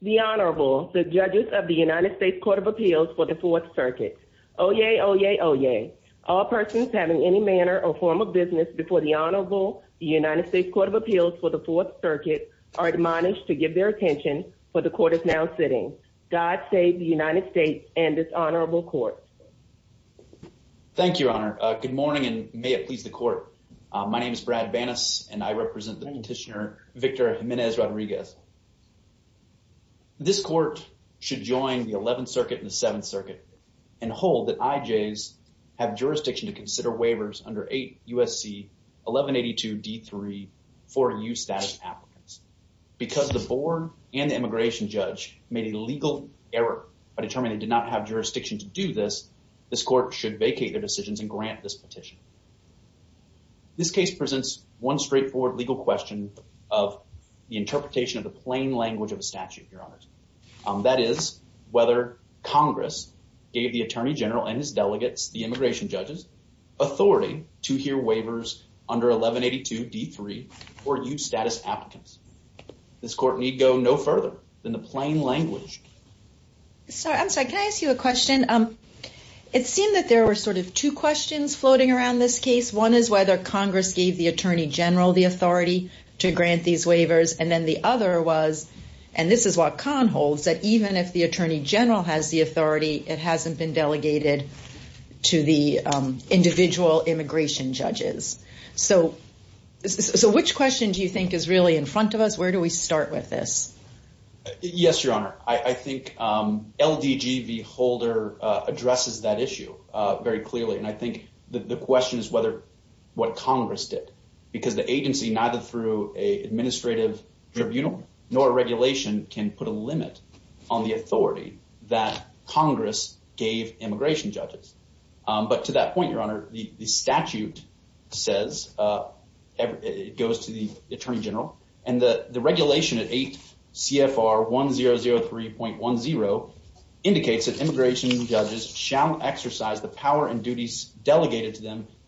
The Honorable, the judges of the United States Court of Appeals for the Fourth Circuit. Oyez, oyez, oyez. All persons having any manner or form of business before the Honorable, the United States Court of Appeals for the Fourth Circuit, are admonished to give their attention where the court is now sitting. God save the United States and this honorable court. Thank you, Your Honor. Good morning and may it please the court. My name is Brad Banas and I represent the petitioner Victor Jimenez-Rodriguez. This court should join the 11th Circuit and the 7th Circuit and hold that IJs have jurisdiction to consider waivers under 8 U.S.C. 1182 D.3 for U-status applicants. Because the board and the immigration judge made a legal error by determining they did not have jurisdiction to do this, this court should vacate their decisions and grant this This case presents one straightforward legal question of the interpretation of the plain language of a statute, Your Honors. That is, whether Congress gave the Attorney General and his delegates, the immigration judges, authority to hear waivers under 1182 D.3 for U-status applicants. This court need go no further than the plain language. I'm sorry, can I ask you a question? It seemed that there were sort of two questions floating around this case. One is whether Congress gave the Attorney General the authority to grant these waivers and then the other was, and this is what Kahn holds, that even if the Attorney General has the authority, it hasn't been delegated to the individual immigration judges. So which question do you think is really in front of us? Where do we start with this? Yes, Your Honor. I think LDG v. Holder addresses that issue very clearly and I think that the question is what Congress did because the agency, neither through an administrative tribunal nor a regulation, can put a limit on the authority that Congress gave immigration judges. But to that point, Your Honor, the statute says, it goes to the Attorney General, and the regulation at 8 CFR 1003.10 indicates that immigration judges shall exercise the authority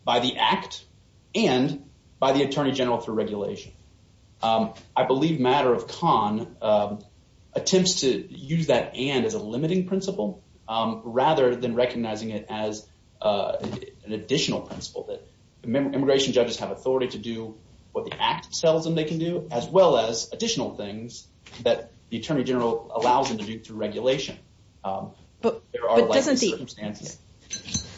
by the act and by the Attorney General through regulation. I believe matter of Kahn attempts to use that and as a limiting principle rather than recognizing it as an additional principle. Immigration judges have authority to do what the act tells them they can do as well as additional things that the Attorney General allows them to do through regulation. But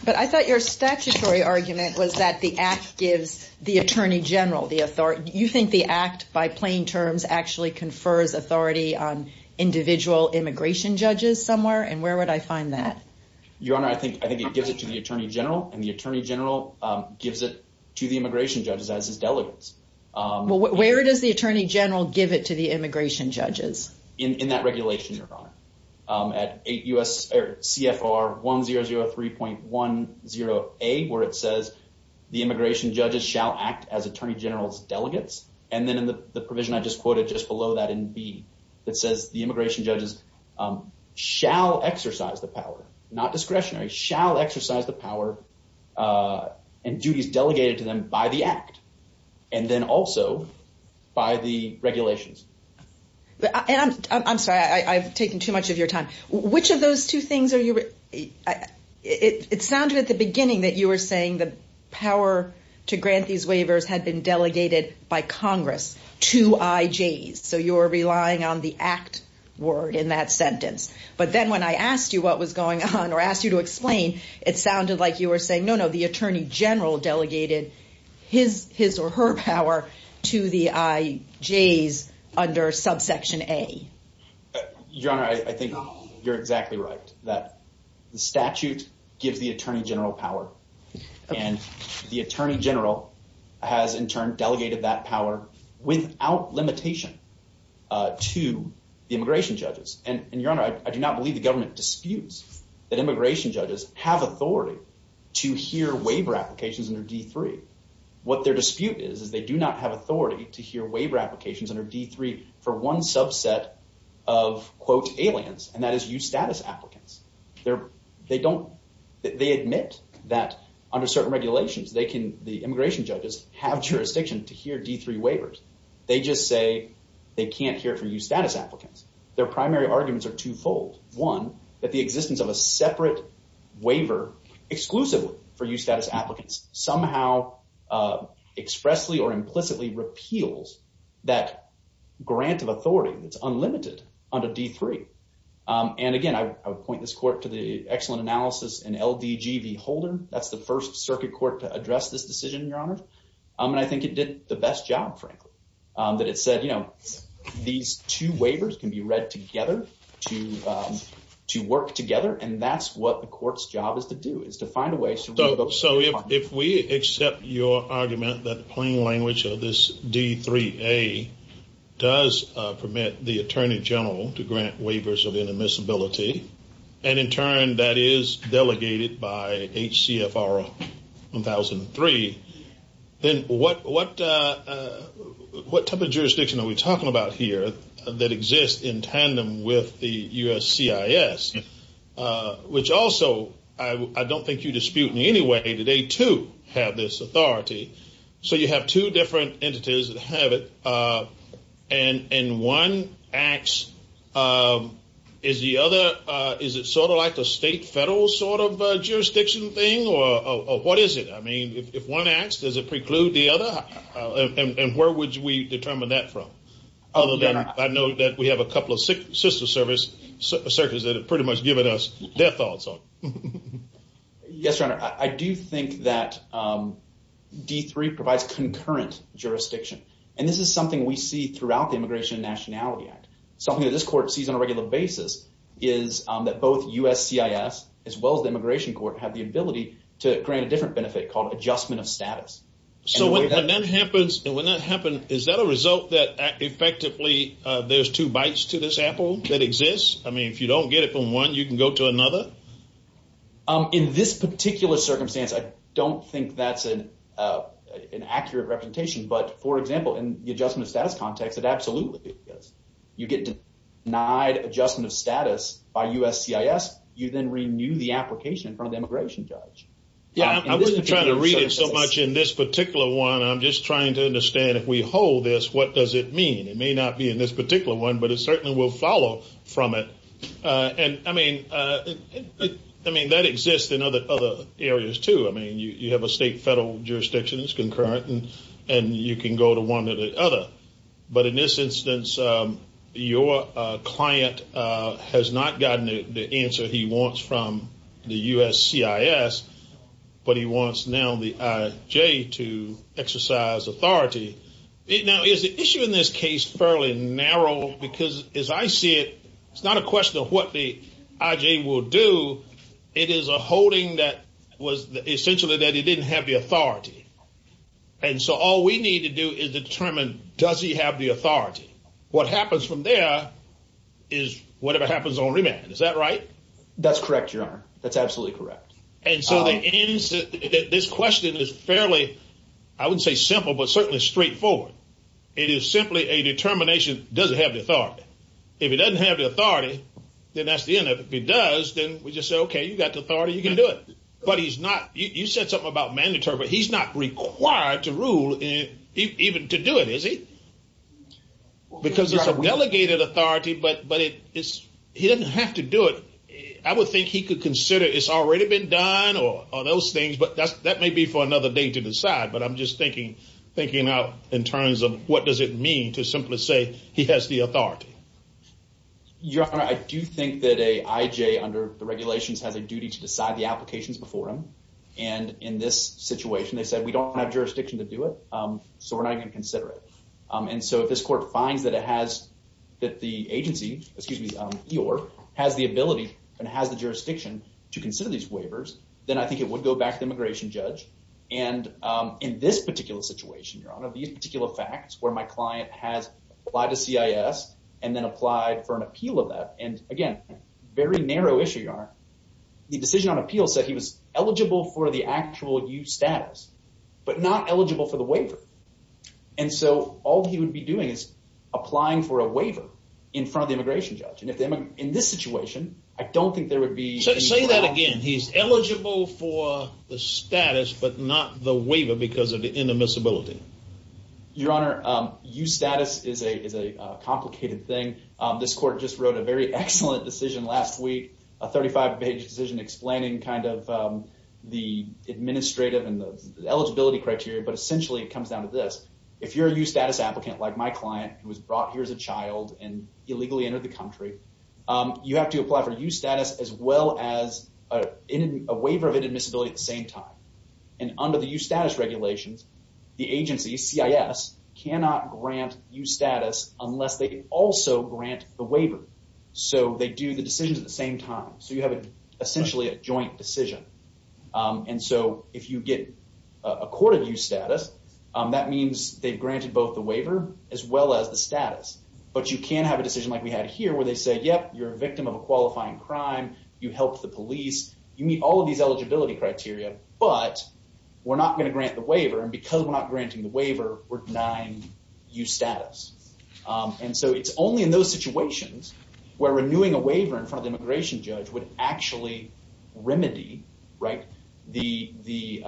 I thought your statutory argument was that the act gives the Attorney General the authority. You think the act by plain terms actually confers authority on individual immigration judges somewhere and where would I find that? Your Honor, I think it gives it to the Attorney General and the Attorney General gives it to the immigration judges as his delegates. Where does the Attorney General give it to the immigration judges? In that regulation, Your Honor, at 8 CFR 1003.10A, where it says the immigration judges shall act as Attorney General's delegates. And then in the provision I just quoted just below that in B, that says the immigration judges shall exercise the power, not discretionary, shall exercise the power and duties delegated to them by the act and then also by the regulations. I'm sorry, I've taken too much of your time. Which of those two things are you? It sounded at the beginning that you were saying the power to grant these waivers had been delegated by Congress to IJs. So you're relying on the act word in that sentence. But then when I asked you what was going on or asked you to explain, it sounded like you General delegated his or her power to the IJs under subsection A. Your Honor, I think you're exactly right. That the statute gives the Attorney General power and the Attorney General has in turn delegated that power without limitation to the immigration judges. And Your Honor, I do not believe the government disputes that immigration judges have authority to hear waiver applications under D-3. What their dispute is, is they do not have authority to hear waiver applications under D-3 for one subset of, quote, aliens, and that is eustatus applicants. They admit that under certain regulations, the immigration judges have jurisdiction to hear D-3 waivers. They just say they can't hear it for eustatus applicants. Their primary arguments are twofold. One, that the existence of a separate waiver exclusively for eustatus applicants somehow expressly or implicitly repeals that grant of authority that's unlimited under D-3. And again, I would point this court to the excellent analysis in LDG v. Holder. That's the first circuit court to address this decision, Your Honor. And I think it did the best job, frankly, that it said, you know, these two waivers can be read together to work together. And that's what the court's job is to do, is to find a way so we can go through the process. So if we accept your argument that the plain language of this D-3A does permit the attorney general to grant waivers of inadmissibility, and in turn, that is delegated by HCFR 1003, then what type of jurisdiction are we talking about here that exists in tandem with the USCIS, which also I don't think you dispute in any way that they, too, have this authority. So you have two different entities that have it, and one acts as the other. Is it sort of like the state-federal sort of jurisdiction thing, or what is it? I mean, if one acts, does it preclude the other? And where would we determine that from, other than I know that we have a couple of sister circuits that have pretty much given us their thoughts on it. Yes, Your Honor. I do think that D-3 provides concurrent jurisdiction. And this is something we see throughout the Immigration and Nationality Act. Something that this court sees on a regular basis is that both USCIS, as well as the Immigration Court, have the ability to grant a different benefit called adjustment of status. So when that happens, is that a result that effectively there's two bites to this apple that exists? I mean, if you don't get it from one, you can go to another? In this particular circumstance, I don't think that's an accurate representation. But for example, in the adjustment of status context, it absolutely is. You get denied adjustment of status by USCIS, you then renew the application from the immigration judge. Yeah, I wasn't trying to read it so much in this particular one. I'm just trying to understand if we hold this, what does it mean? It may not be in this particular one, but it certainly will follow from it. And I mean, that exists in other areas too. I mean, you have a state-federal jurisdiction that's concurrent, and you can go to one or the other. But in this instance, your client has not gotten the answer he wants from the USCIS, but he wants now the IJ to exercise authority. Now, is the issue in this case fairly narrow? Because as I see it, it's not a question of what the IJ will do. It is a holding that was essentially that it didn't have the authority. And so all we need to do is determine, does he have the authority? What happens from there is whatever happens on remand. Is that right? That's correct, Your Honor. That's absolutely correct. And so this question is fairly, I wouldn't say simple, but certainly straightforward. It is simply a determination, does it have the authority? If it doesn't have the authority, then that's the end of it. If it does, then we just say, okay, you got the authority, you can do it. But he's not... You said something about mandatory. He's not required to rule even to do it, is he? Because it's a delegated authority, but he doesn't have to do it. I would think he could consider it's already been done or those things, but that may be for another day to decide. But I'm just thinking out in terms of what does it mean to simply say he has the authority? Your Honor, I do think that a IJ under the regulations has a duty to decide the applications before him. And in this situation, they said, we don't have jurisdiction to do it, so we're not going to consider it. And so if this court finds that it has, that the agency, excuse me, EOR, has the ability and has the jurisdiction to consider these waivers, then I think it would go back to the immigration judge. And in this particular situation, Your Honor, these particular facts where my client has applied to CIS and then applied for an appeal of that. And again, very narrow issue, Your Honor. The decision on appeal said he was eligible for the actual EU status, but not eligible for the waiver. And so all he would be doing is applying for a waiver in front of the immigration judge. And if they in this situation, I don't think there would be such say that again. He's eligible for the status, but not the waiver because of the intermissibility. Your Honor, EU status is a is a complicated thing. This court just wrote a very excellent decision last week, a 35-page decision explaining kind of the administrative and the eligibility criteria. But essentially it comes down to this. If you're a EU status applicant like my client who was brought here as a child and illegally entered the country, you have to apply for EU status as well as a waiver of intermissibility at the same time. And under the EU status regulations, the agency, CIS, cannot grant EU status unless they also grant the waiver. So they do the decisions at the same time. So you have essentially a joint decision. And so if you get a court of EU status, that means they've granted both the waiver as well as the status. But you can have a decision like we had here where they say, yep, you're a victim of a qualifying crime. You helped the police. You meet all of these eligibility criteria, but we're not going to grant the waiver and because we're not granting the waiver, we're denying EU status. And so it's only in those situations where renewing a waiver in front of the immigration judge would actually remedy the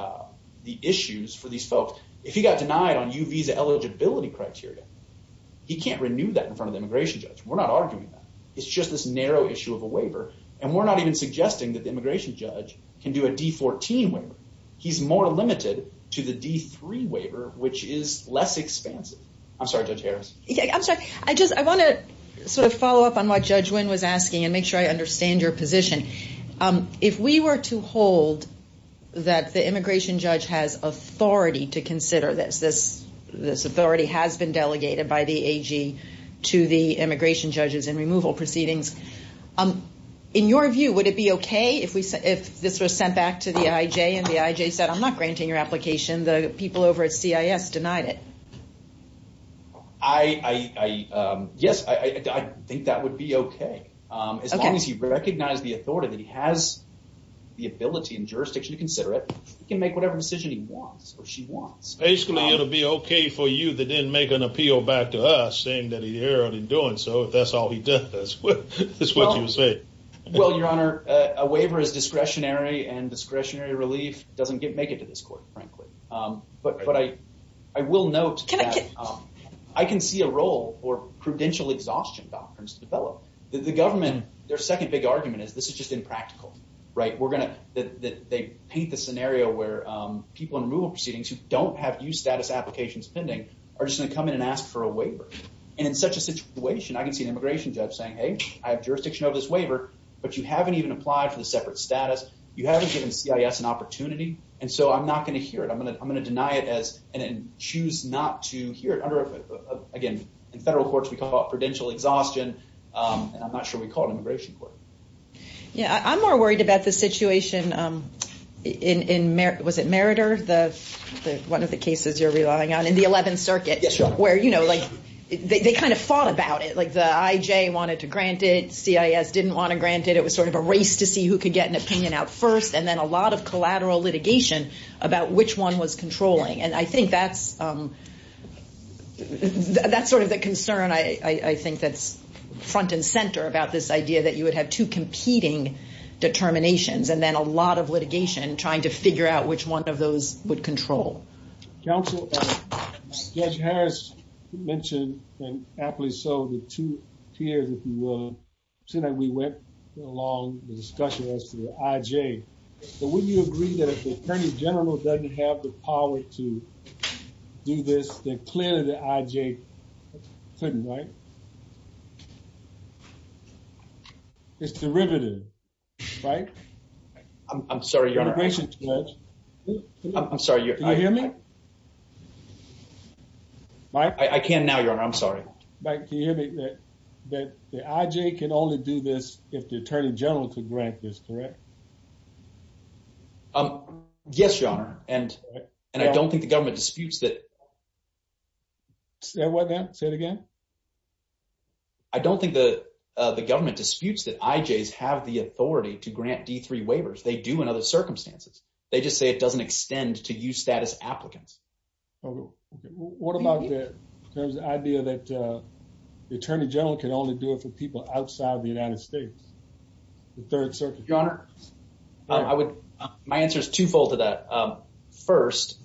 issues for these folks. If he got denied on EU visa eligibility criteria, he can't renew that in front of the immigration judge. We're not arguing that. It's just this narrow issue of a waiver. And we're not even suggesting that the immigration judge can do a D14 waiver. He's more limited to the D3 waiver, which is less expansive. I'm sorry, Judge Harris. I'm sorry. I just, I want to sort of follow up on what Judge Nguyen was asking and make sure I understand your position. If we were to hold that the immigration judge has authority to consider this, this authority has been delegated by the AG to the immigration judges and removal proceedings. In your view, would it be okay if this was sent back to the IJ and the IJ said, I'm not granting your application. The people over at CIS denied it. I, yes, I think that would be okay as long as he recognized the authority that he has the ability and jurisdiction to consider it, he can make whatever decision he wants or she wants. Basically, it'll be okay for you that didn't make an appeal back to us saying that he already doing so, if that's all he does, that's what you say. Well, your honor, a waiver is discretionary and discretionary relief doesn't make it to this court, frankly. But I will note that I can see a role for prudential exhaustion doctrines to develop. The government, their second big argument is this is just impractical, right? We're going to, that they paint the scenario where people in removal proceedings who don't have new status applications pending are just going to come in and ask for a waiver. And in such a situation, I can see an immigration judge saying, hey, I have jurisdiction over this waiver, but you haven't even applied for the separate status. You haven't given CIS an opportunity. And so I'm not going to hear it. I'm going to deny it as, and then choose not to hear it under, again, in federal courts we call it prudential exhaustion, and I'm not sure we call it immigration court. Yeah. I'm more worried about the situation in, was it Meritor, one of the cases you're relying on in the 11th Circuit, where, you know, like they kind of fought about it, like the IJ wanted to grant it, CIS didn't want to grant it. It was sort of a race to see who could get an opinion out first. And then a lot of collateral litigation about which one was controlling. And I think that's, that's sort of the concern I think that's front and center about this idea that you would have two competing determinations, and then a lot of litigation trying to figure out which one of those would control. Counsel, Judge Harris mentioned, and aptly so, the two peers that you, so that we went along the discussion as to the IJ. But wouldn't you agree that if the Attorney General doesn't have the power to do this, then clearly the IJ couldn't, right? It's derivative, right? I'm sorry, Your Honor. Immigration Judge. I'm sorry, Your Honor. Can you hear me? Mike? I can now, Your Honor. I'm sorry. Mike, can you hear me? That the IJ can only do this if the Attorney General could grant this, correct? Yes, Your Honor. And I don't think the government disputes that. Say what now? Say it again? I don't think the government disputes that IJs have the authority to grant D3 waivers. They do in other circumstances. They just say it doesn't extend to you status applicants. Okay, what about the idea that the Attorney General can only do it for people outside the United States, the Third Circuit? Your Honor, my answer is twofold to that. First,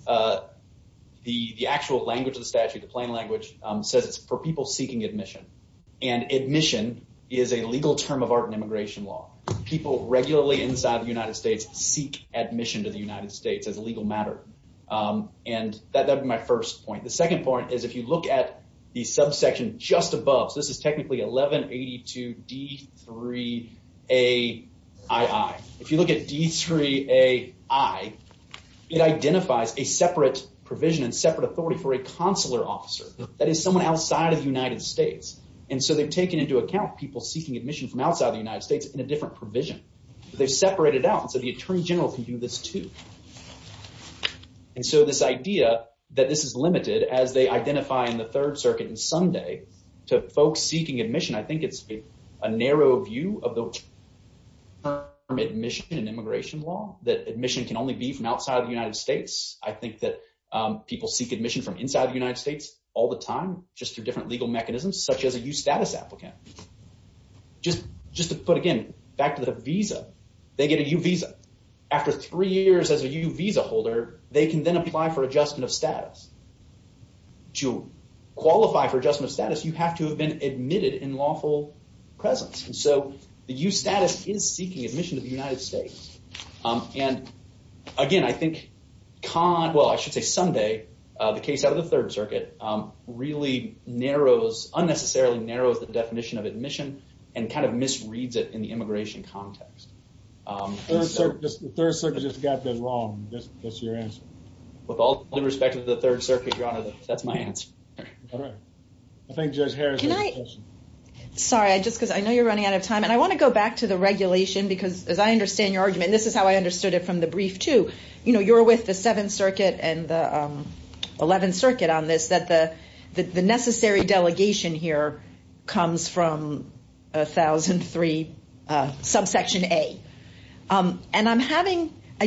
the actual language of the statute, the plain language, says it's for people seeking admission. And admission is a legal term of art in immigration law. People regularly inside the United States seek admission to the United States as a legal matter. And that would be my first point. The second point is if you look at the subsection just above. So this is technically 1182 D3 AII. If you look at D3 AI, it identifies a separate provision and separate authority for a consular officer. That is someone outside of the United States. And so they've taken into account people seeking admission from outside the United States in a different provision. They've separated out. And so the Attorney General can do this too. And so this idea that this is limited as they identify in the Third Circuit and someday to folks seeking admission, I think it's a narrow view of the term admission in immigration law, that admission can only be from outside the United States. I think that people seek admission from inside the United States all the time, just through different legal mechanisms, such as a U-status applicant. Just to put again, back to the visa. They get a U-visa. After three years as a U-visa holder, they can then apply for adjustment of status. To qualify for adjustment of status, you have to have been admitted in lawful presence. And so the U-status is seeking admission to the United States. And again, I think, well, I should say someday, the case out of the Third Circuit really narrows, unnecessarily narrows the definition of admission and kind of misreads it in the immigration context. The Third Circuit just got that wrong. That's your answer. With all due respect to the Third Circuit, Your Honor, that's my answer. All right. I think Judge Harris has a question. Sorry, just because I know you're running out of time. And I want to go back to the regulation, because as I understand your argument, and this is how I understood it from the brief too, you're with the Seventh Circuit and the Eleventh Circuit. I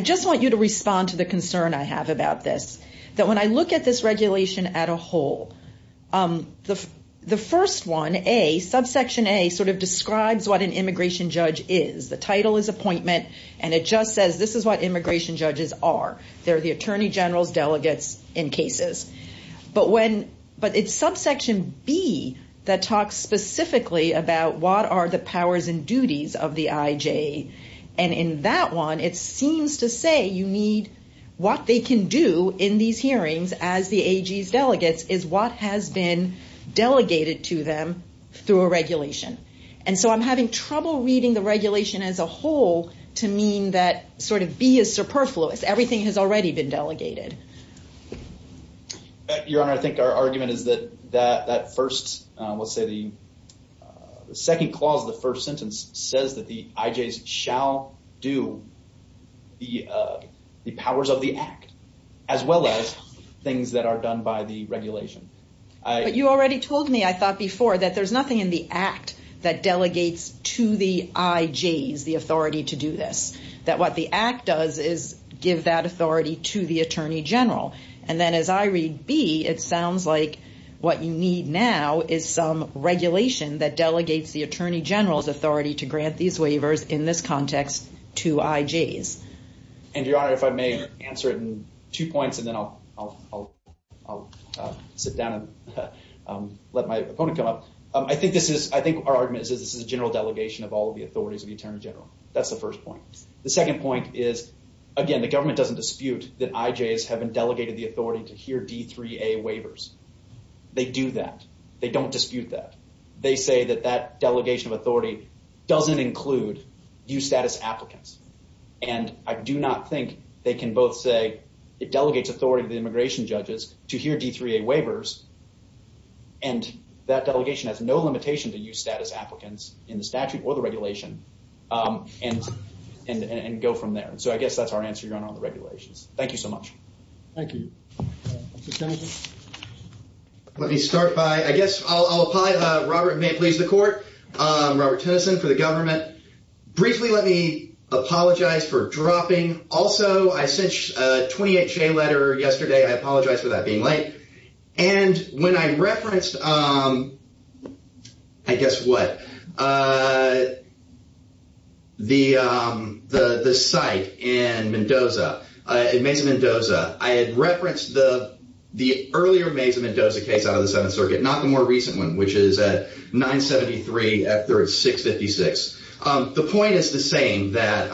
just want you to respond to the concern I have about this, that when I look at this regulation at a whole, the first one, A, subsection A sort of describes what an immigration judge is. The title is appointment. And it just says, this is what immigration judges are. They're the attorney generals, delegates in cases. But it's subsection B that talks specifically about what are the powers and duties of the IJ. And in that one, it seems to say you need what they can do in these hearings as the AG's delegates is what has been delegated to them through a regulation. And so I'm having trouble reading the regulation as a whole to mean that sort of B is superfluous. Everything has already been delegated. Your Honor, I think our argument is that that first, let's say the second clause of the first sentence says that the IJs shall do the powers of the act as well as things that are done by the regulation. But you already told me, I thought before, that there's nothing in the act that delegates to the IJs the authority to do this. That what the act does is give that authority to the attorney general. And then as I read B, it sounds like what you need now is some regulation that delegates the attorney general's authority to grant these waivers in this context to IJs. And Your Honor, if I may answer it in two points, and then I'll sit down and let my opponent come up. I think our argument is this is a general delegation of all of the authorities of the attorney general. That's the first point. The second point is, again, the government doesn't dispute that IJs have been delegated the authority to hear D3A waivers. They do that. They don't dispute that. They say that that delegation of authority doesn't include U-status applicants. And I do not think they can both say it delegates authority to the immigration judges to hear D3A waivers. And that delegation has no limitation to U-status applicants in the statute or the regulation and go from there. So I guess that's our answer, Your Honor, on the regulations. Thank you so much. Thank you. Let me start by, I guess I'll apply Robert, may it please the court, Robert Tennyson for the government. Briefly, let me apologize for dropping. Also, I sent you a 28-J letter yesterday. I apologize for that being late. And when I referenced, I guess what, the site in Mendoza, in Mesa, Mendoza, I had referenced the earlier Mesa, Mendoza case out of the Seventh Circuit, not the more recent one, which is at 973 after 656. The point is the same that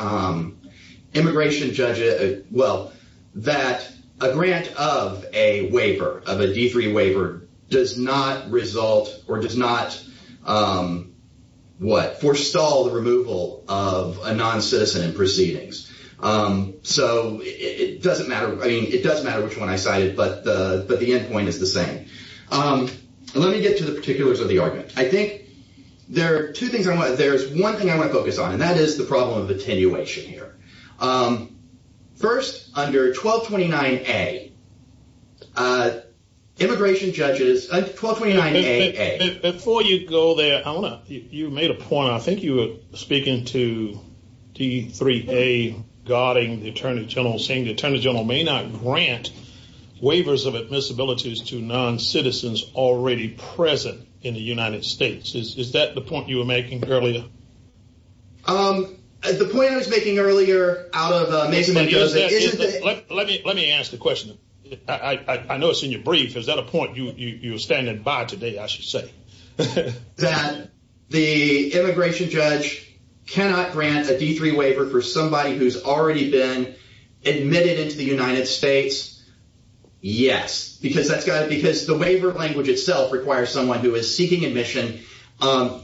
immigration judges, well, that a grant of a waiver, of a D3 waiver does not result or does not, what, forestall the removal of a non-citizen in proceedings. So it doesn't matter. I mean, it doesn't matter which one I cited, but the end point is the same. And let me get to the particulars of the argument. I think there are two things I want. There's one thing I want to focus on, and that is the problem of attenuation here. First, under 1229A, immigration judges, 1229A-A. Before you go there, Eleanor, you made a point. I think you were speaking to D3A guarding the attorney general, saying the attorney general may not grant waivers of admissibilities to non-citizens already present in the United States. Is that the point you were making earlier? The point I was making earlier out of Mesa, Mendoza, isn't that... Let me ask the question. I know it's in your brief. Is that a point you were standing by today, I should say? That the immigration judge cannot grant a D3 waiver for somebody who's already been admitted into the United States? Yes. Because the waiver language itself requires someone who is seeking admission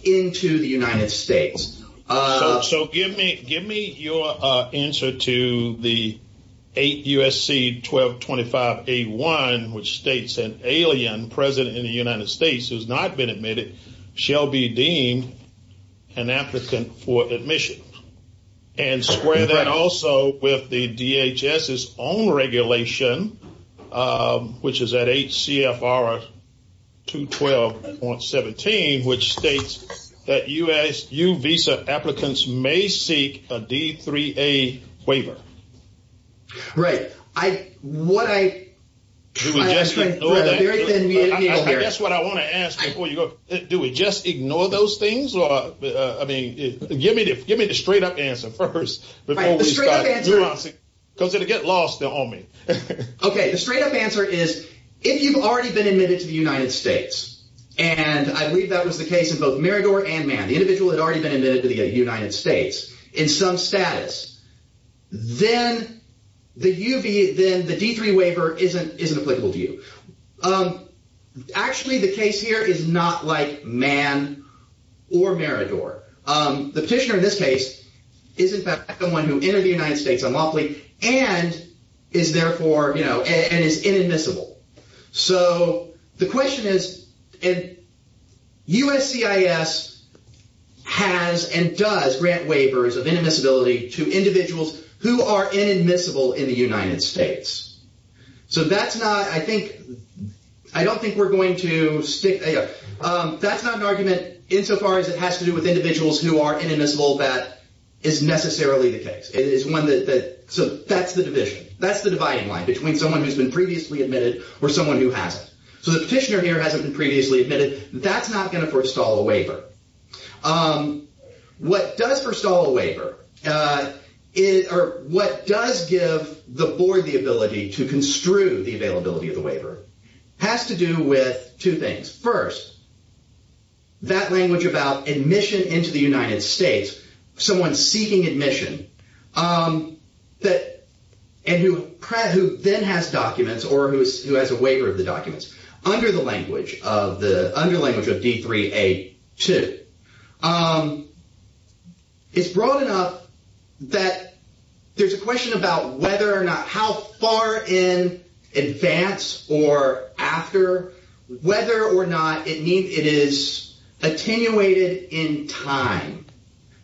into the United States. So give me your answer to the 8 U.S.C. 1225A-1, which states an alien present in the United States who's not been admitted shall be deemed an applicant for admission. And square that also with the DHS's own regulation, which is at 8 CFR 212.17, which states that U-Visa applicants may seek a D3A waiver. Right. What I... That's what I want to ask before you go. Do we just ignore those things? I mean, give me the straight up answer first. Because it'll get lost on me. Okay. The straight up answer is, if you've already been admitted to the United States, and I believe that was the case of both Marador and Mann, the individual had already been admitted to the United States in some status, then the U-V... Then the D3 waiver isn't applicable to you. Actually, the case here is not like Mann or Marador. The petitioner in this case is in fact the one who entered the United States unlawfully and is therefore, you know, and is inadmissible. So the question is, U-S-C-I-S has and does grant waivers of inadmissibility to individuals who are inadmissible in the United States. So that's not, I think, I don't think we're going to stick... That's not an argument insofar as it has to do with individuals who are inadmissible. That is necessarily the case. It is one that... So that's the division. That's the dividing line between someone who's been previously admitted or someone who hasn't. So the petitioner here hasn't been previously admitted. That's not going to forestall a waiver. What does forestall a waiver or what does give the board the ability to construe the availability of the waiver has to do with two things. First, that language about admission into the United States, someone seeking admission and who then has documents or who has a waiver of the documents. Under the language of D-3-A-2, it's broad enough that there's a question about whether or not, how far in advance or after, whether or not it is attenuated in time.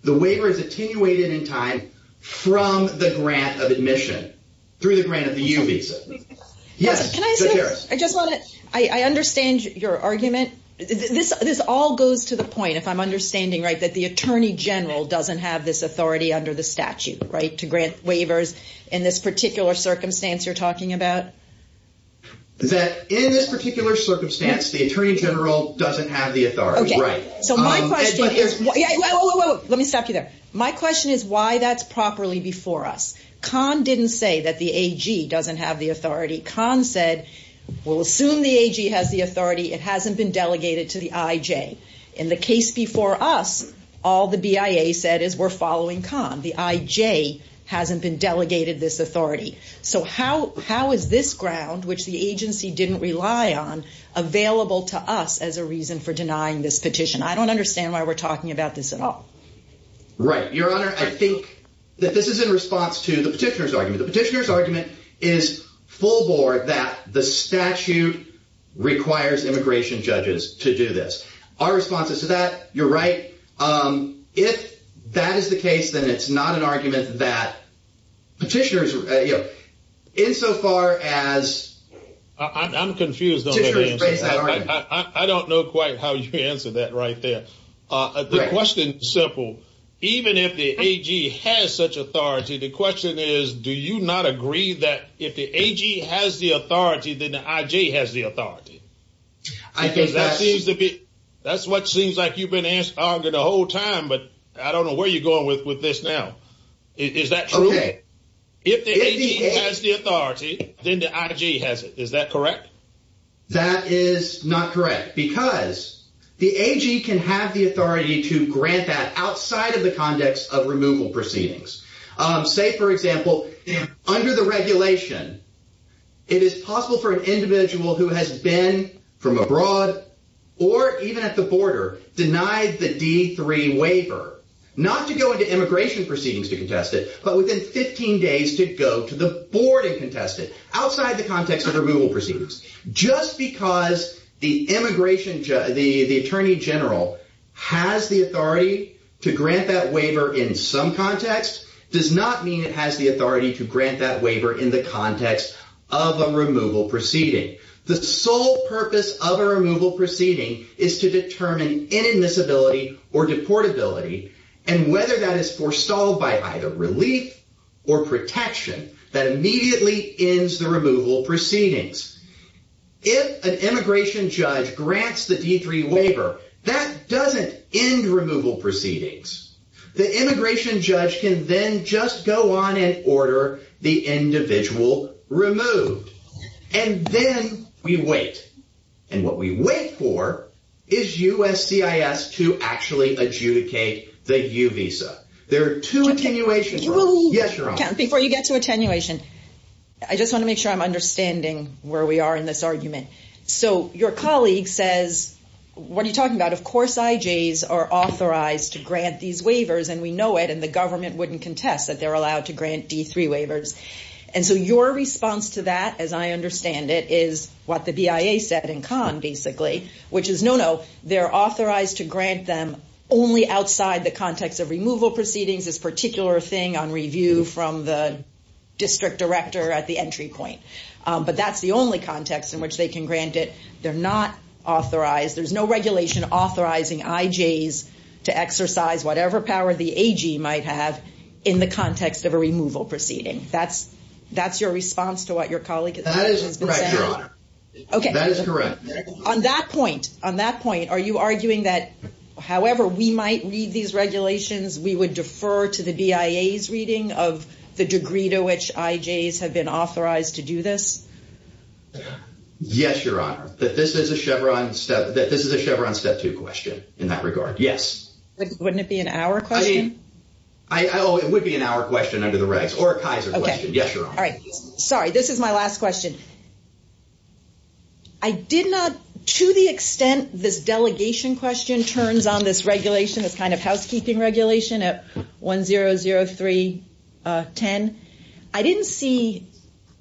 The waiver is attenuated in time from the grant of admission, through the grant of the U-Visa. Yes. I just want to... I understand your argument. This all goes to the point, if I'm understanding right, that the attorney general doesn't have this authority under the statute, right, to grant waivers in this particular circumstance you're talking about? That in this particular circumstance, the attorney general doesn't have the authority. Okay. Let me stop you there. My question is why that's properly before us. Kahn didn't say that the AG doesn't have the authority. Kahn said, we'll assume the AG has the authority. It hasn't been delegated to the IJ. In the case before us, all the BIA said is we're following Kahn. The IJ hasn't been delegated this authority. So how is this ground, which the agency didn't rely on, available to us as a reason for denying this petition? I don't understand why we're talking about this at all. Right. Your Honor, I think that this is in response to the petitioner's argument. The petitioner's argument is full board that the statute requires immigration judges to do this. Our response is to that. You're right. If that is the case, then it's not an argument that petitioners, insofar as... I'm confused on that answer. I don't know quite how you answered that right there. The question's simple. Even if the AG has such authority, the question is, do you not agree that if the AG has the authority, then the IJ has the authority? That's what seems like you've been answering the whole time, but I don't know where you're going with this now. Is that true? Okay. If the AG has the authority, then the IJ has it. Is that correct? That is not correct. Because the AG can have the authority to grant that outside of the context of removal proceedings. Say, for example, under the regulation, it is possible for an individual who has been from abroad, or even at the border, denied the D3 waiver, not to go into immigration proceedings to contest it, but within 15 days to go to the board and contest it, outside the context of removal proceedings. Just because the attorney general has the authority to grant that waiver in some context, does not mean it has the authority to grant that waiver in the context of a removal proceeding. The sole purpose of a removal proceeding is to determine inadmissibility or deportability, and whether that is foresawed by either relief or protection, that immediately ends the removal proceedings. If an immigration judge grants the D3 waiver, that does not end removal proceedings. The immigration judge can then just go on and order the individual removed, and then we wait. And what we wait for is USCIS to actually adjudicate the U visa. There are two attenuations. You will... Yes, Your Honor. Before you get to attenuation, I just want to make sure I am understanding where we are in this argument. So your colleague says, what are you talking about? Of course, IJs are authorized to grant these waivers, and we know it, and the government wouldn't contest that they're allowed to grant D3 waivers. And so your response to that, as I understand it, is what the BIA said in Khan, basically, which is, no, no, they're authorized to grant them only outside the context of removal proceedings, this particular thing on review from the district director at the entry point. But that's the only context in which they can grant it. They're not authorized. There's no regulation authorizing IJs to exercise whatever power the AG might have in the context of a removal proceeding. That's your response to what your colleague has been saying? That is correct, Your Honor. Okay. That is correct. On that point, are you arguing that, however we might read these regulations, we would Yes, Your Honor. That this is a Chevron step two question in that regard. Yes. Wouldn't it be an hour question? Oh, it would be an hour question under the regs, or a Kaiser question. Yes, Your Honor. All right. Sorry, this is my last question. I did not, to the extent this delegation question turns on this regulation, this kind of housekeeping regulation at 100310, I didn't see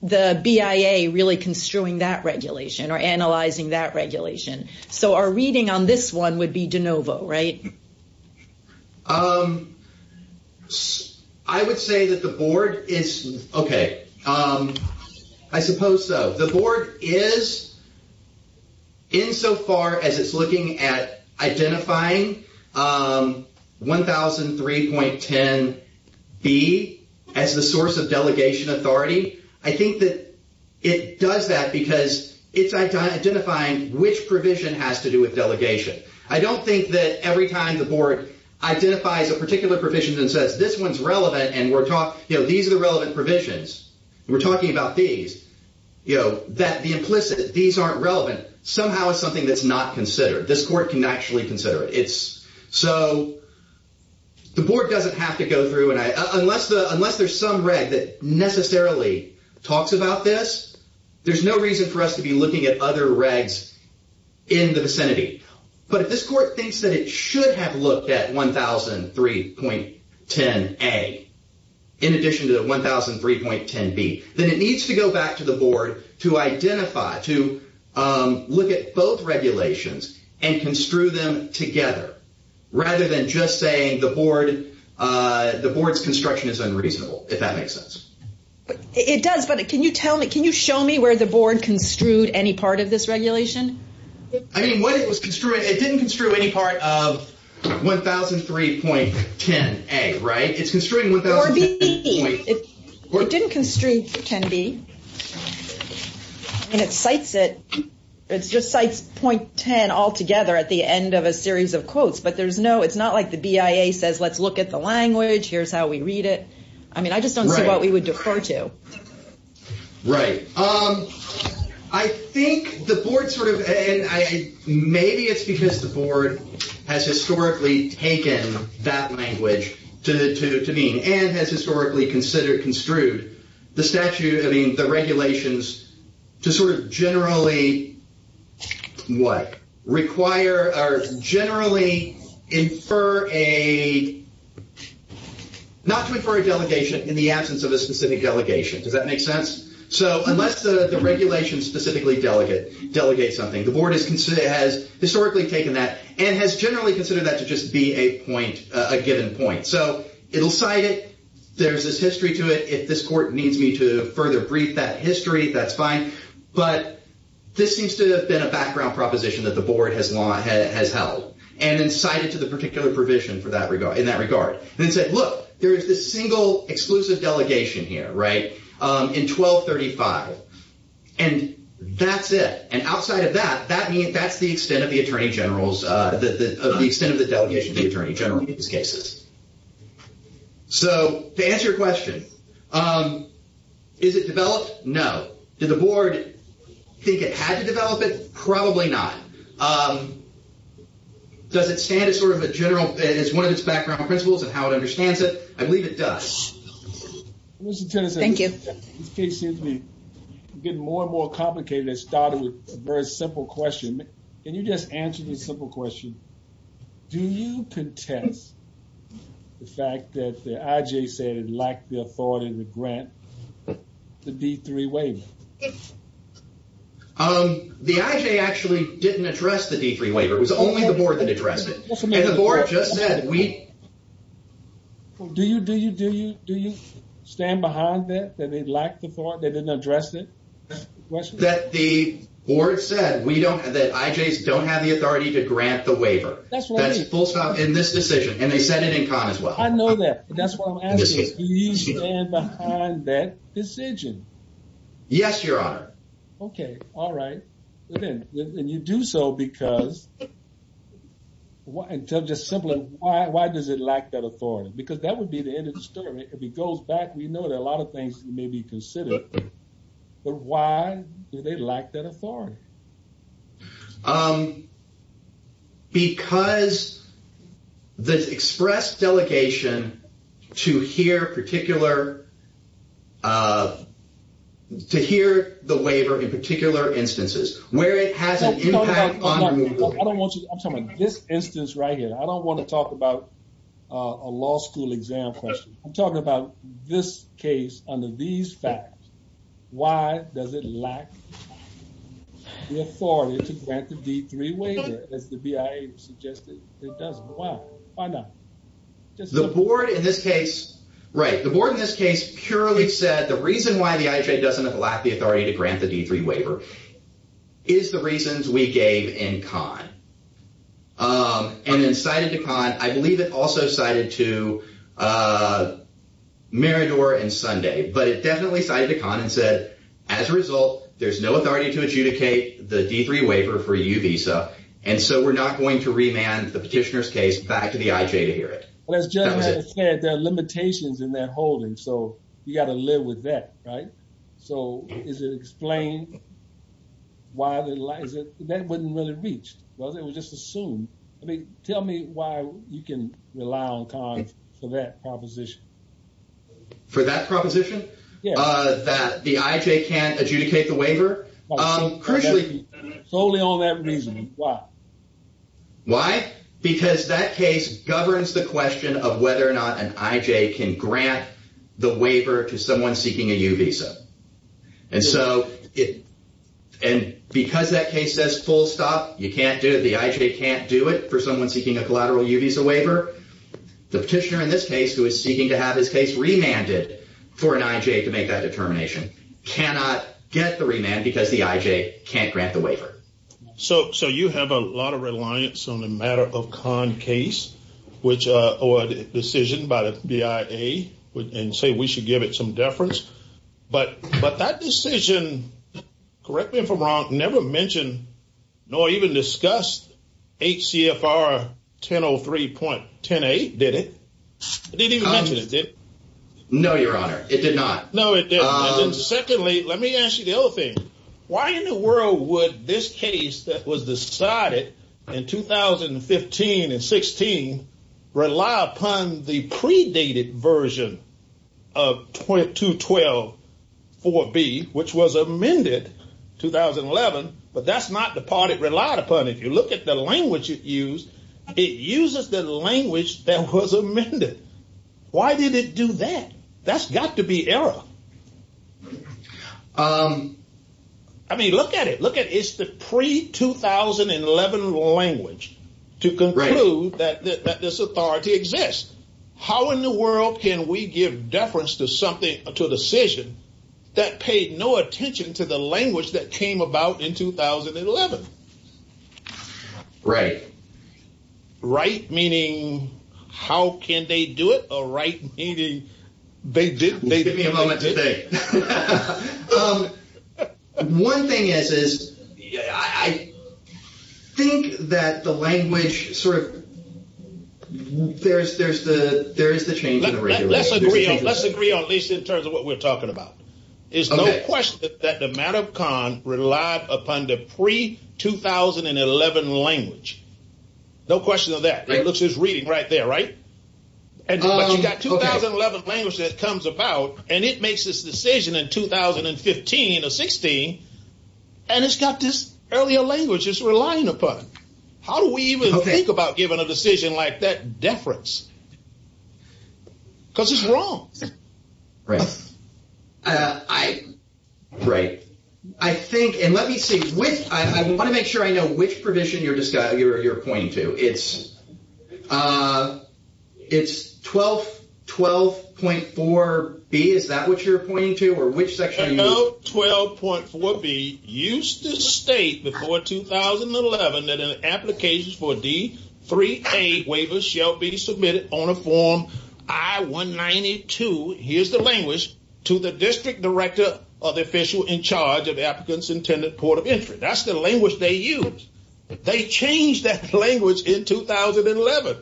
the BIA really construing that regulation or analyzing that regulation. So our reading on this one would be de novo, right? I would say that the board is, okay, I suppose so. The board is, insofar as it's looking at identifying 1003.10B as the source of delegation authority, I think that it does that because it's identifying which provision has to do with delegation. I don't think that every time the board identifies a particular provision and says, this one's relevant and we're talking, these are the relevant provisions, and we're talking about these, that the implicit, these aren't relevant, somehow is something that's not considered. This court can actually consider it. So the board doesn't have to go through, unless there's some reg that necessarily talks about this, there's no reason for us to be looking at other regs in the vicinity. But if this court thinks that it should have looked at 1003.10A in addition to the 1003.10B, then it needs to go back to the board to identify, to look at both regulations and construe them together, rather than just saying the board's construction is unreasonable, if that makes sense. It does, but can you tell me, can you show me where the board construed any part of this regulation? I mean, what it was construing, it didn't construe any part of 1003.10A, right? It's construing 1003.10B. It didn't construe 10B, and it cites it, it just cites .10 altogether at the end of a series of quotes. But there's no, it's not like the BIA says, let's look at the language, here's how we read it. I mean, I just don't see what we would defer to. Right. I think the board sort of, and maybe it's because the board has historically taken that construed, the statute, I mean, the regulations to sort of generally, what? Require or generally infer a, not to infer a delegation in the absence of a specific delegation. Does that make sense? So unless the regulation specifically delegates something, the board has historically taken that and has generally considered that to just be a point, a given point. So it'll cite it, there's this history to it, if this court needs me to further brief that history, that's fine. But this seems to have been a background proposition that the board has held, and then cited to the particular provision in that regard. And then said, look, there is this single exclusive delegation here, right, in 1235. And that's it. And outside of that, that's the extent of the attorney general's, of the extent of the delegation of the attorney general in these cases. So to answer your question, is it developed? No. Did the board think it had to develop it? Probably not. Does it stand as sort of a general, as one of its background principles of how it understands it? I believe it does. Thank you. This case seems to be getting more and more complicated. It started with a very simple question. Can you just answer this simple question? Do you contest the fact that the IJ said it lacked the authority to grant the D3 waiver? The IJ actually didn't address the D3 waiver. It was only the board that addressed it. And the board just said, we. Do you, do you, do you, do you stand behind that, that they lacked the authority, they didn't address it? That the board said we don't, that IJs don't have the authority to grant the waiver. That's right. That's full stop in this decision. And they said it in con as well. I know that. That's why I'm asking, do you stand behind that decision? Yes, your honor. Okay. All right. And you do so because, and tell just simply, why, why does it lack that authority? Because that would be the end of the story. If he goes back, we know that a lot of things may be considered. But why do they lack that authority? Um, because the express delegation to hear particular, uh, to hear the waiver in particular instances where it has an impact on removal. I don't want you, I'm talking about this instance right here. I don't want to talk about a law school exam question. I'm talking about this case under these facts. Why does it lack the authority to grant the D3 waiver as the BIA suggested it doesn't? Why? Why not? The board in this case, right. The board in this case purely said the reason why the IJ doesn't have the authority to grant the D3 waiver is the reasons we gave in con. Um, and then cited to con, I believe it also cited to, uh, Marador and Sunday, but it definitely cited to con and said, as a result, there's no authority to adjudicate the D3 waiver for you visa. And so we're not going to remand the petitioner's case back to the IJ to hear it. Well, as Jeff had said, there are limitations in that holding. So you got to live with that. Right. So is it explained why the, that wouldn't really reach. Well, it was just assumed. I mean, tell me why you can rely on con for that proposition. For that proposition, uh, that the IJ can't adjudicate the waiver. Um, crucially solely on that reason. Why, why? Because that case governs the question of whether or not an IJ can grant the waiver to someone seeking a U visa. And so it, and because that case says full stop, you can't do it. The IJ can't do it for someone seeking a collateral U visa waiver. The petitioner in this case who is seeking to have his case remanded for an IJ to make that determination cannot get the remand because the IJ can't grant the waiver. So, so you have a lot of reliance on the matter of con case, which, uh, or decision by the BIA and say, we should give it some deference. But, but that decision, correct me if I'm wrong, never mentioned, nor even discussed HCFR 1003.108, did it? It didn't even mention it, did it? No, your honor. It did not. No, it didn't. Secondly, let me ask you the other thing. Why in the world would this case that was decided in 2015 and 16 rely upon the predated version of 212.4b, which was amended 2011. But that's not the part it relied upon. If you look at the language it used, it uses the language that was amended. Why did it do that? That's got to be error. Um, I mean, look at it, look at it. It's the pre 2011 language to conclude that this authority exists. How in the world can we give deference to something, to a decision that paid no attention to the language that came about in 2011? Right. Right. Meaning how can they do it? All right. Meaning they did. Give me a moment today. One thing is, is I think that the language sort of, there's, there's the, there's the change. Let's agree on at least in terms of what we're talking about is no question that the matter of con relied upon the pre 2011 language. No question of that. It looks, it's reading right there, right? And you got 2011 language that comes about and it makes this decision in 2015 or 16. And it's got this earlier language is relying upon. How do we even think about giving a decision like that deference? Because it's wrong. Right. Uh, I, right. I think, and let me see which, I want to make sure I know which provision you're pointing to. It's, uh, it's 12, 12.4 B. Is that what you're pointing to or which section? 12.4 B used to state before 2011 that an application for D three A waivers shall be submitted on a form. I one 92. Here's the language to the district director of the official in charge of applicants intended port of entry. That's the language they use. They changed that language in 2011.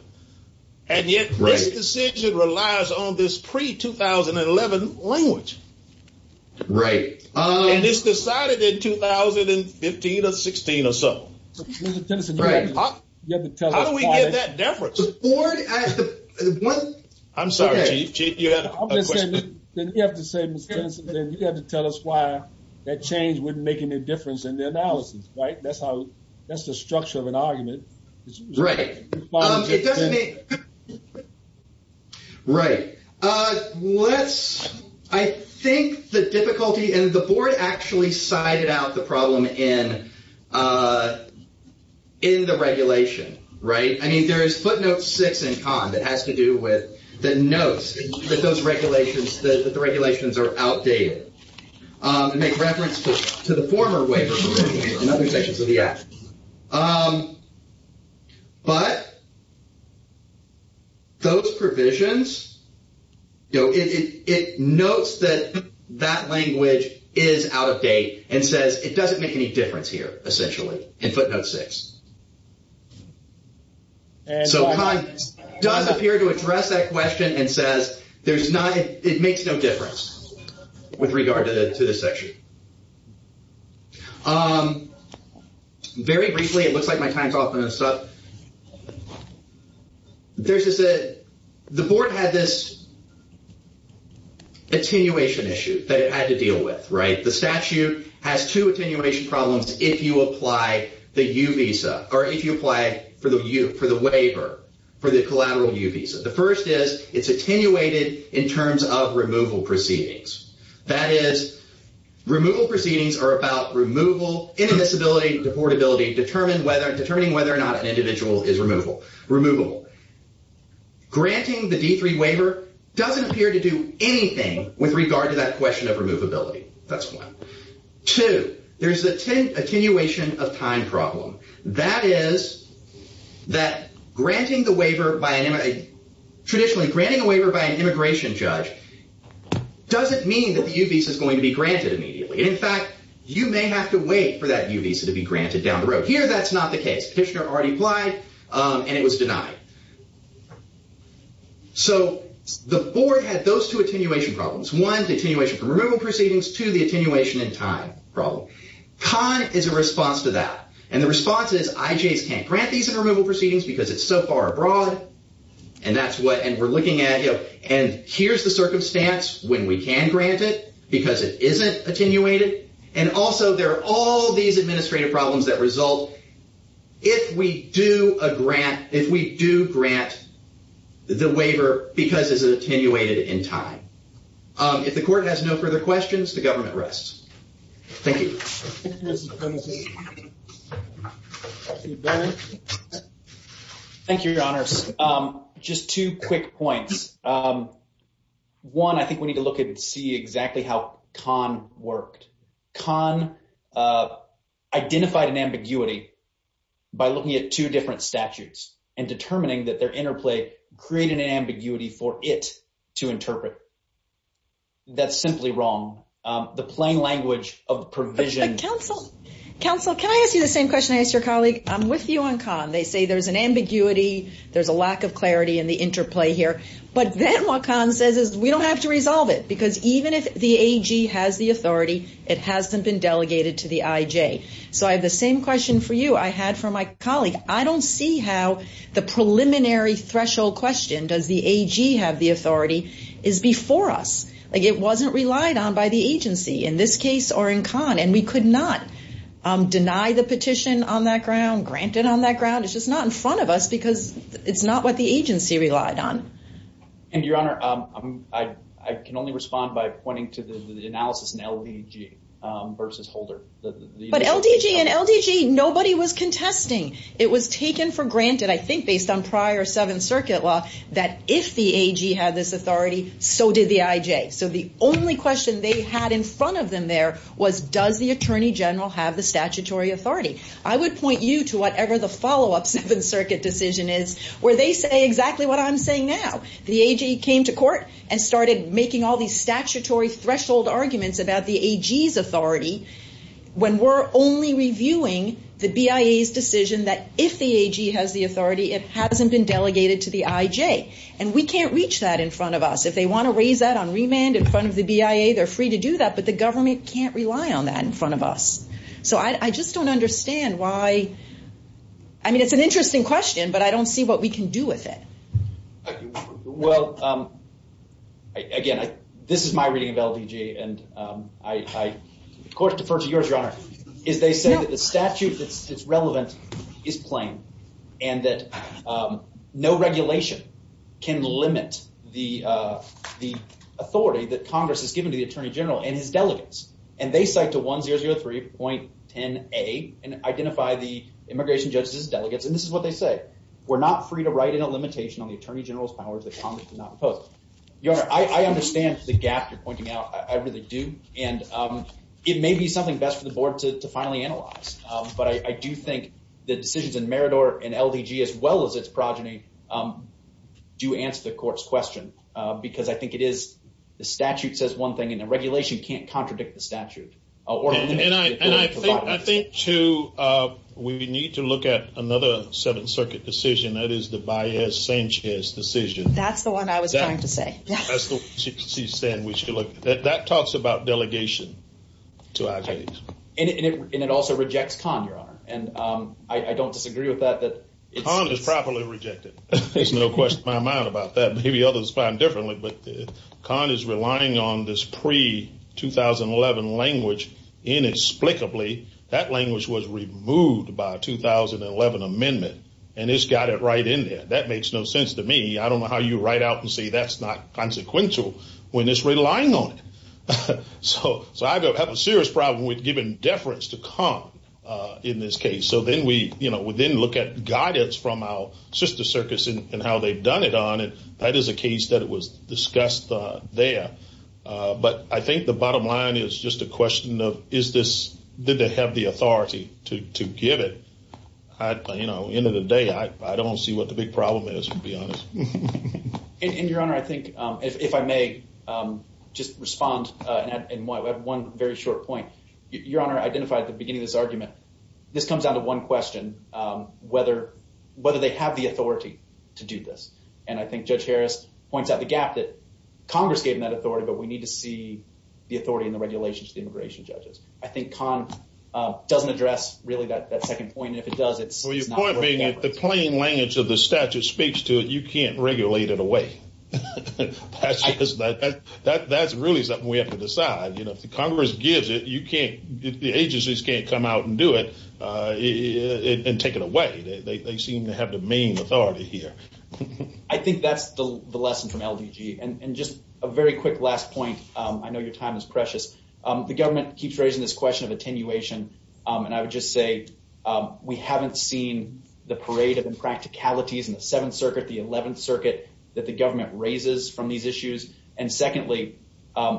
And yet this decision relies on this pre 2011 language. Right. And it's decided in 2015 or 16 or so. Right. How do we get that deference? I'm sorry, Chief. You have to tell us why that change wouldn't make any difference in the analysis, right? That's how, that's the structure of an argument. Right. Right. Uh, let's, I think the difficulty and the board actually cited out the problem in, uh, in the regulation, right? I mean, there is footnote six and con that has to do with the notes that those regulations, that the regulations are outdated, um, and make reference to the former waiver in other sections of the act. Um, but those provisions, you know, it, it, it notes that that language is out of date and says it doesn't make any difference here essentially in footnote six. So con does appear to address that question and says there's not, it makes no difference with regard to the, to this section. Um, very briefly, it looks like my time's up. There's just a, the board had this attenuation issue that it had to deal with, right? The statute has two attenuation problems if you apply the U visa or if you apply for the U, for the waiver, for the collateral U visa. The first is it's attenuated in terms of removal proceedings. That is removal proceedings are about removal, inadmissibility, deportability, determine whether, determining whether or not an individual is removable, removable, granting the D three waiver doesn't appear to do anything with regard to that question of removability. That's one. Two, there's the 10 attenuation of time problem. That is that granting the waiver by traditionally granting a waiver by an immigration judge doesn't mean that the U visa is going to be granted immediately. And in fact, you may have to wait for that U visa to be granted down the road. Here, that's not the case. Petitioner already applied and it was denied. So the board had those two attenuation problems. One, the attenuation from removal proceedings. Two, the attenuation in time problem. Con is a response to that. And the response is IJs can't grant these in removal proceedings because it's so far abroad. And that's what, and we're looking at, you know, and here's the circumstance when we can grant it because it isn't attenuated. And also there are all these administrative problems that result if we do a grant, if we do grant the waiver because it's attenuated in time. If the court has no further questions, the government rests. Thank you. Thank you, your honors. Just two quick points. One, I think we need to look at and see exactly how Con worked. Con identified an ambiguity by looking at two different statutes and determining that their interplay created an ambiguity for it to interpret. That's simply wrong. The plain language of the provision. Counsel, counsel, can I ask you the same question I asked your colleague? I'm with you on Con. They say there's an ambiguity. There's a lack of clarity in the interplay here. But then what Con says is we don't have to resolve it because even if the AG has the authority, it hasn't been delegated to the IJ. So I have the same question for you I had for my colleague. I don't see how the preliminary threshold question, does the AG have the authority, is before us. Like it wasn't relied on by the agency in this case or in Con. And we could not deny the petition on that ground, grant it on that ground. It's just not in front of us because it's not what the agency relied on. And Your Honor, I can only respond by pointing to the analysis in LDG versus Holder. But LDG and LDG, nobody was contesting. It was taken for granted, I think, based on prior Seventh Circuit law that if the AG had this authority, so did the IJ. So the only question they had in front of them there was does the Attorney General have the statutory authority? I would point you to whatever the follow-up Seventh Circuit decision is where they say exactly what I'm saying now. The AG came to court and started making all these statutory threshold arguments about the AG's authority when we're only reviewing the BIA's decision that if the AG has the authority, it hasn't been delegated to the IJ. And we can't reach that in front of us. If they want to raise that on remand in front of the BIA, they're free to do that. But the government can't rely on that in front of us. So I just don't understand why. I mean, it's an interesting question, but I don't see what we can do with it. Well, again, this is my reading of LDG. And I, of course, defer to yours, Your Honor, is they say that the statute that's relevant is plain and that no regulation can limit the authority that Congress has given to the Attorney General and his delegates. And they cite to 1003.10a and identify the immigration judges as delegates. And this is what they say. We're not free to write in a limitation on the Attorney General's powers that Congress does not impose. Your Honor, I understand the gap you're pointing out. I really do. And it may be something best for the board to finally analyze. But I do think the decisions in Meridor and LDG, as well as its progeny, do answer the court's question. Because I think it is the statute says one thing, and the regulation can't contradict the statute. And I think, too, we need to look at another Seventh Circuit decision. That is the Baez-Sanchez decision. That's the one I was trying to say. That talks about delegation to IJs. And it also rejects Conn, Your Honor. And I don't disagree with that. Conn is properly rejected. There's no question in my mind about that. Maybe others find differently. Conn is relying on this pre-2011 language inexplicably. That language was removed by a 2011 amendment. And it's got it right in there. That makes no sense to me. I don't know how you write out and say that's not consequential when it's relying on it. So I have a serious problem with giving deference to Conn in this case. So then we look at guidance from our sister circuits and how they've done it on it. That is a case that was discussed there. But I think the bottom line is just a question of, did they have the authority to give it? End of the day, I don't see what the big problem is, to be honest. And, Your Honor, I think, if I may just respond in one very short point. Your Honor identified at the beginning of this argument, this comes down to one question, whether they have the authority to do this. And I think Judge Harris points out the gap that Congress gave them that authority. But we need to see the authority and the regulations to the immigration judges. I think Conn doesn't address, really, that second point. And if it does, it's not worth it. Well, your point being that the plain language of the statute speaks to it. You can't regulate it away. That's really something we have to decide. You know, if the Congress gives it, you can't, the agencies can't come out and do it and take it away. They seem to have the main authority here. I think that's the lesson from LDG. And just a very quick last point. I know your time is precious. The government keeps raising this question of attenuation. And I would just say, we haven't seen the parade of impracticalities in the Seventh Circuit, the Eleventh Circuit, that the government raises from these issues. And secondly,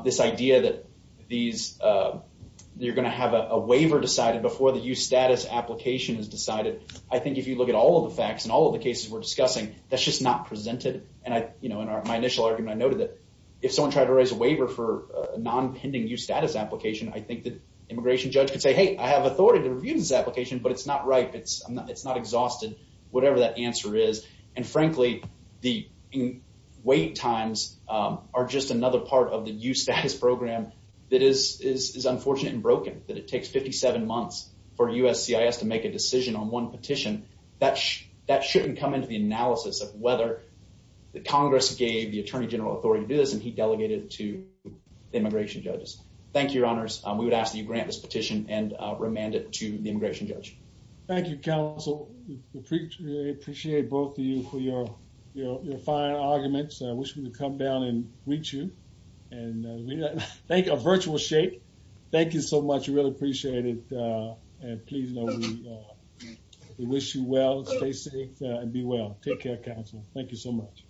this idea that these, you're going to have a waiver decided before the use status application is decided. I think if you look at all of the facts and all of the cases we're discussing, that's just not presented. And I, you know, in my initial argument, I noted that if someone tried to raise a waiver for a non-pending use status application, I think the immigration judge could say, hey, I have authority to review this application, but it's not right. It's not exhausted. Whatever that answer is. And frankly, the wait times are just another part of the use status program that is unfortunate and broken, that it takes 57 months for USCIS to make a decision on one petition. That shouldn't come into the analysis of whether the Congress gave the attorney general authority to do this, and he delegated it to the immigration judges. Thank you, your honors. We would ask that you grant this petition and remand it to the immigration judge. Thank you, counsel. We appreciate both of you for your fine arguments. I wish we could come down and greet you. And thank you, a virtual shake. Thank you so much. We really appreciate it. Please know we wish you well. Stay safe and be well. Take care, counsel. Thank you so much.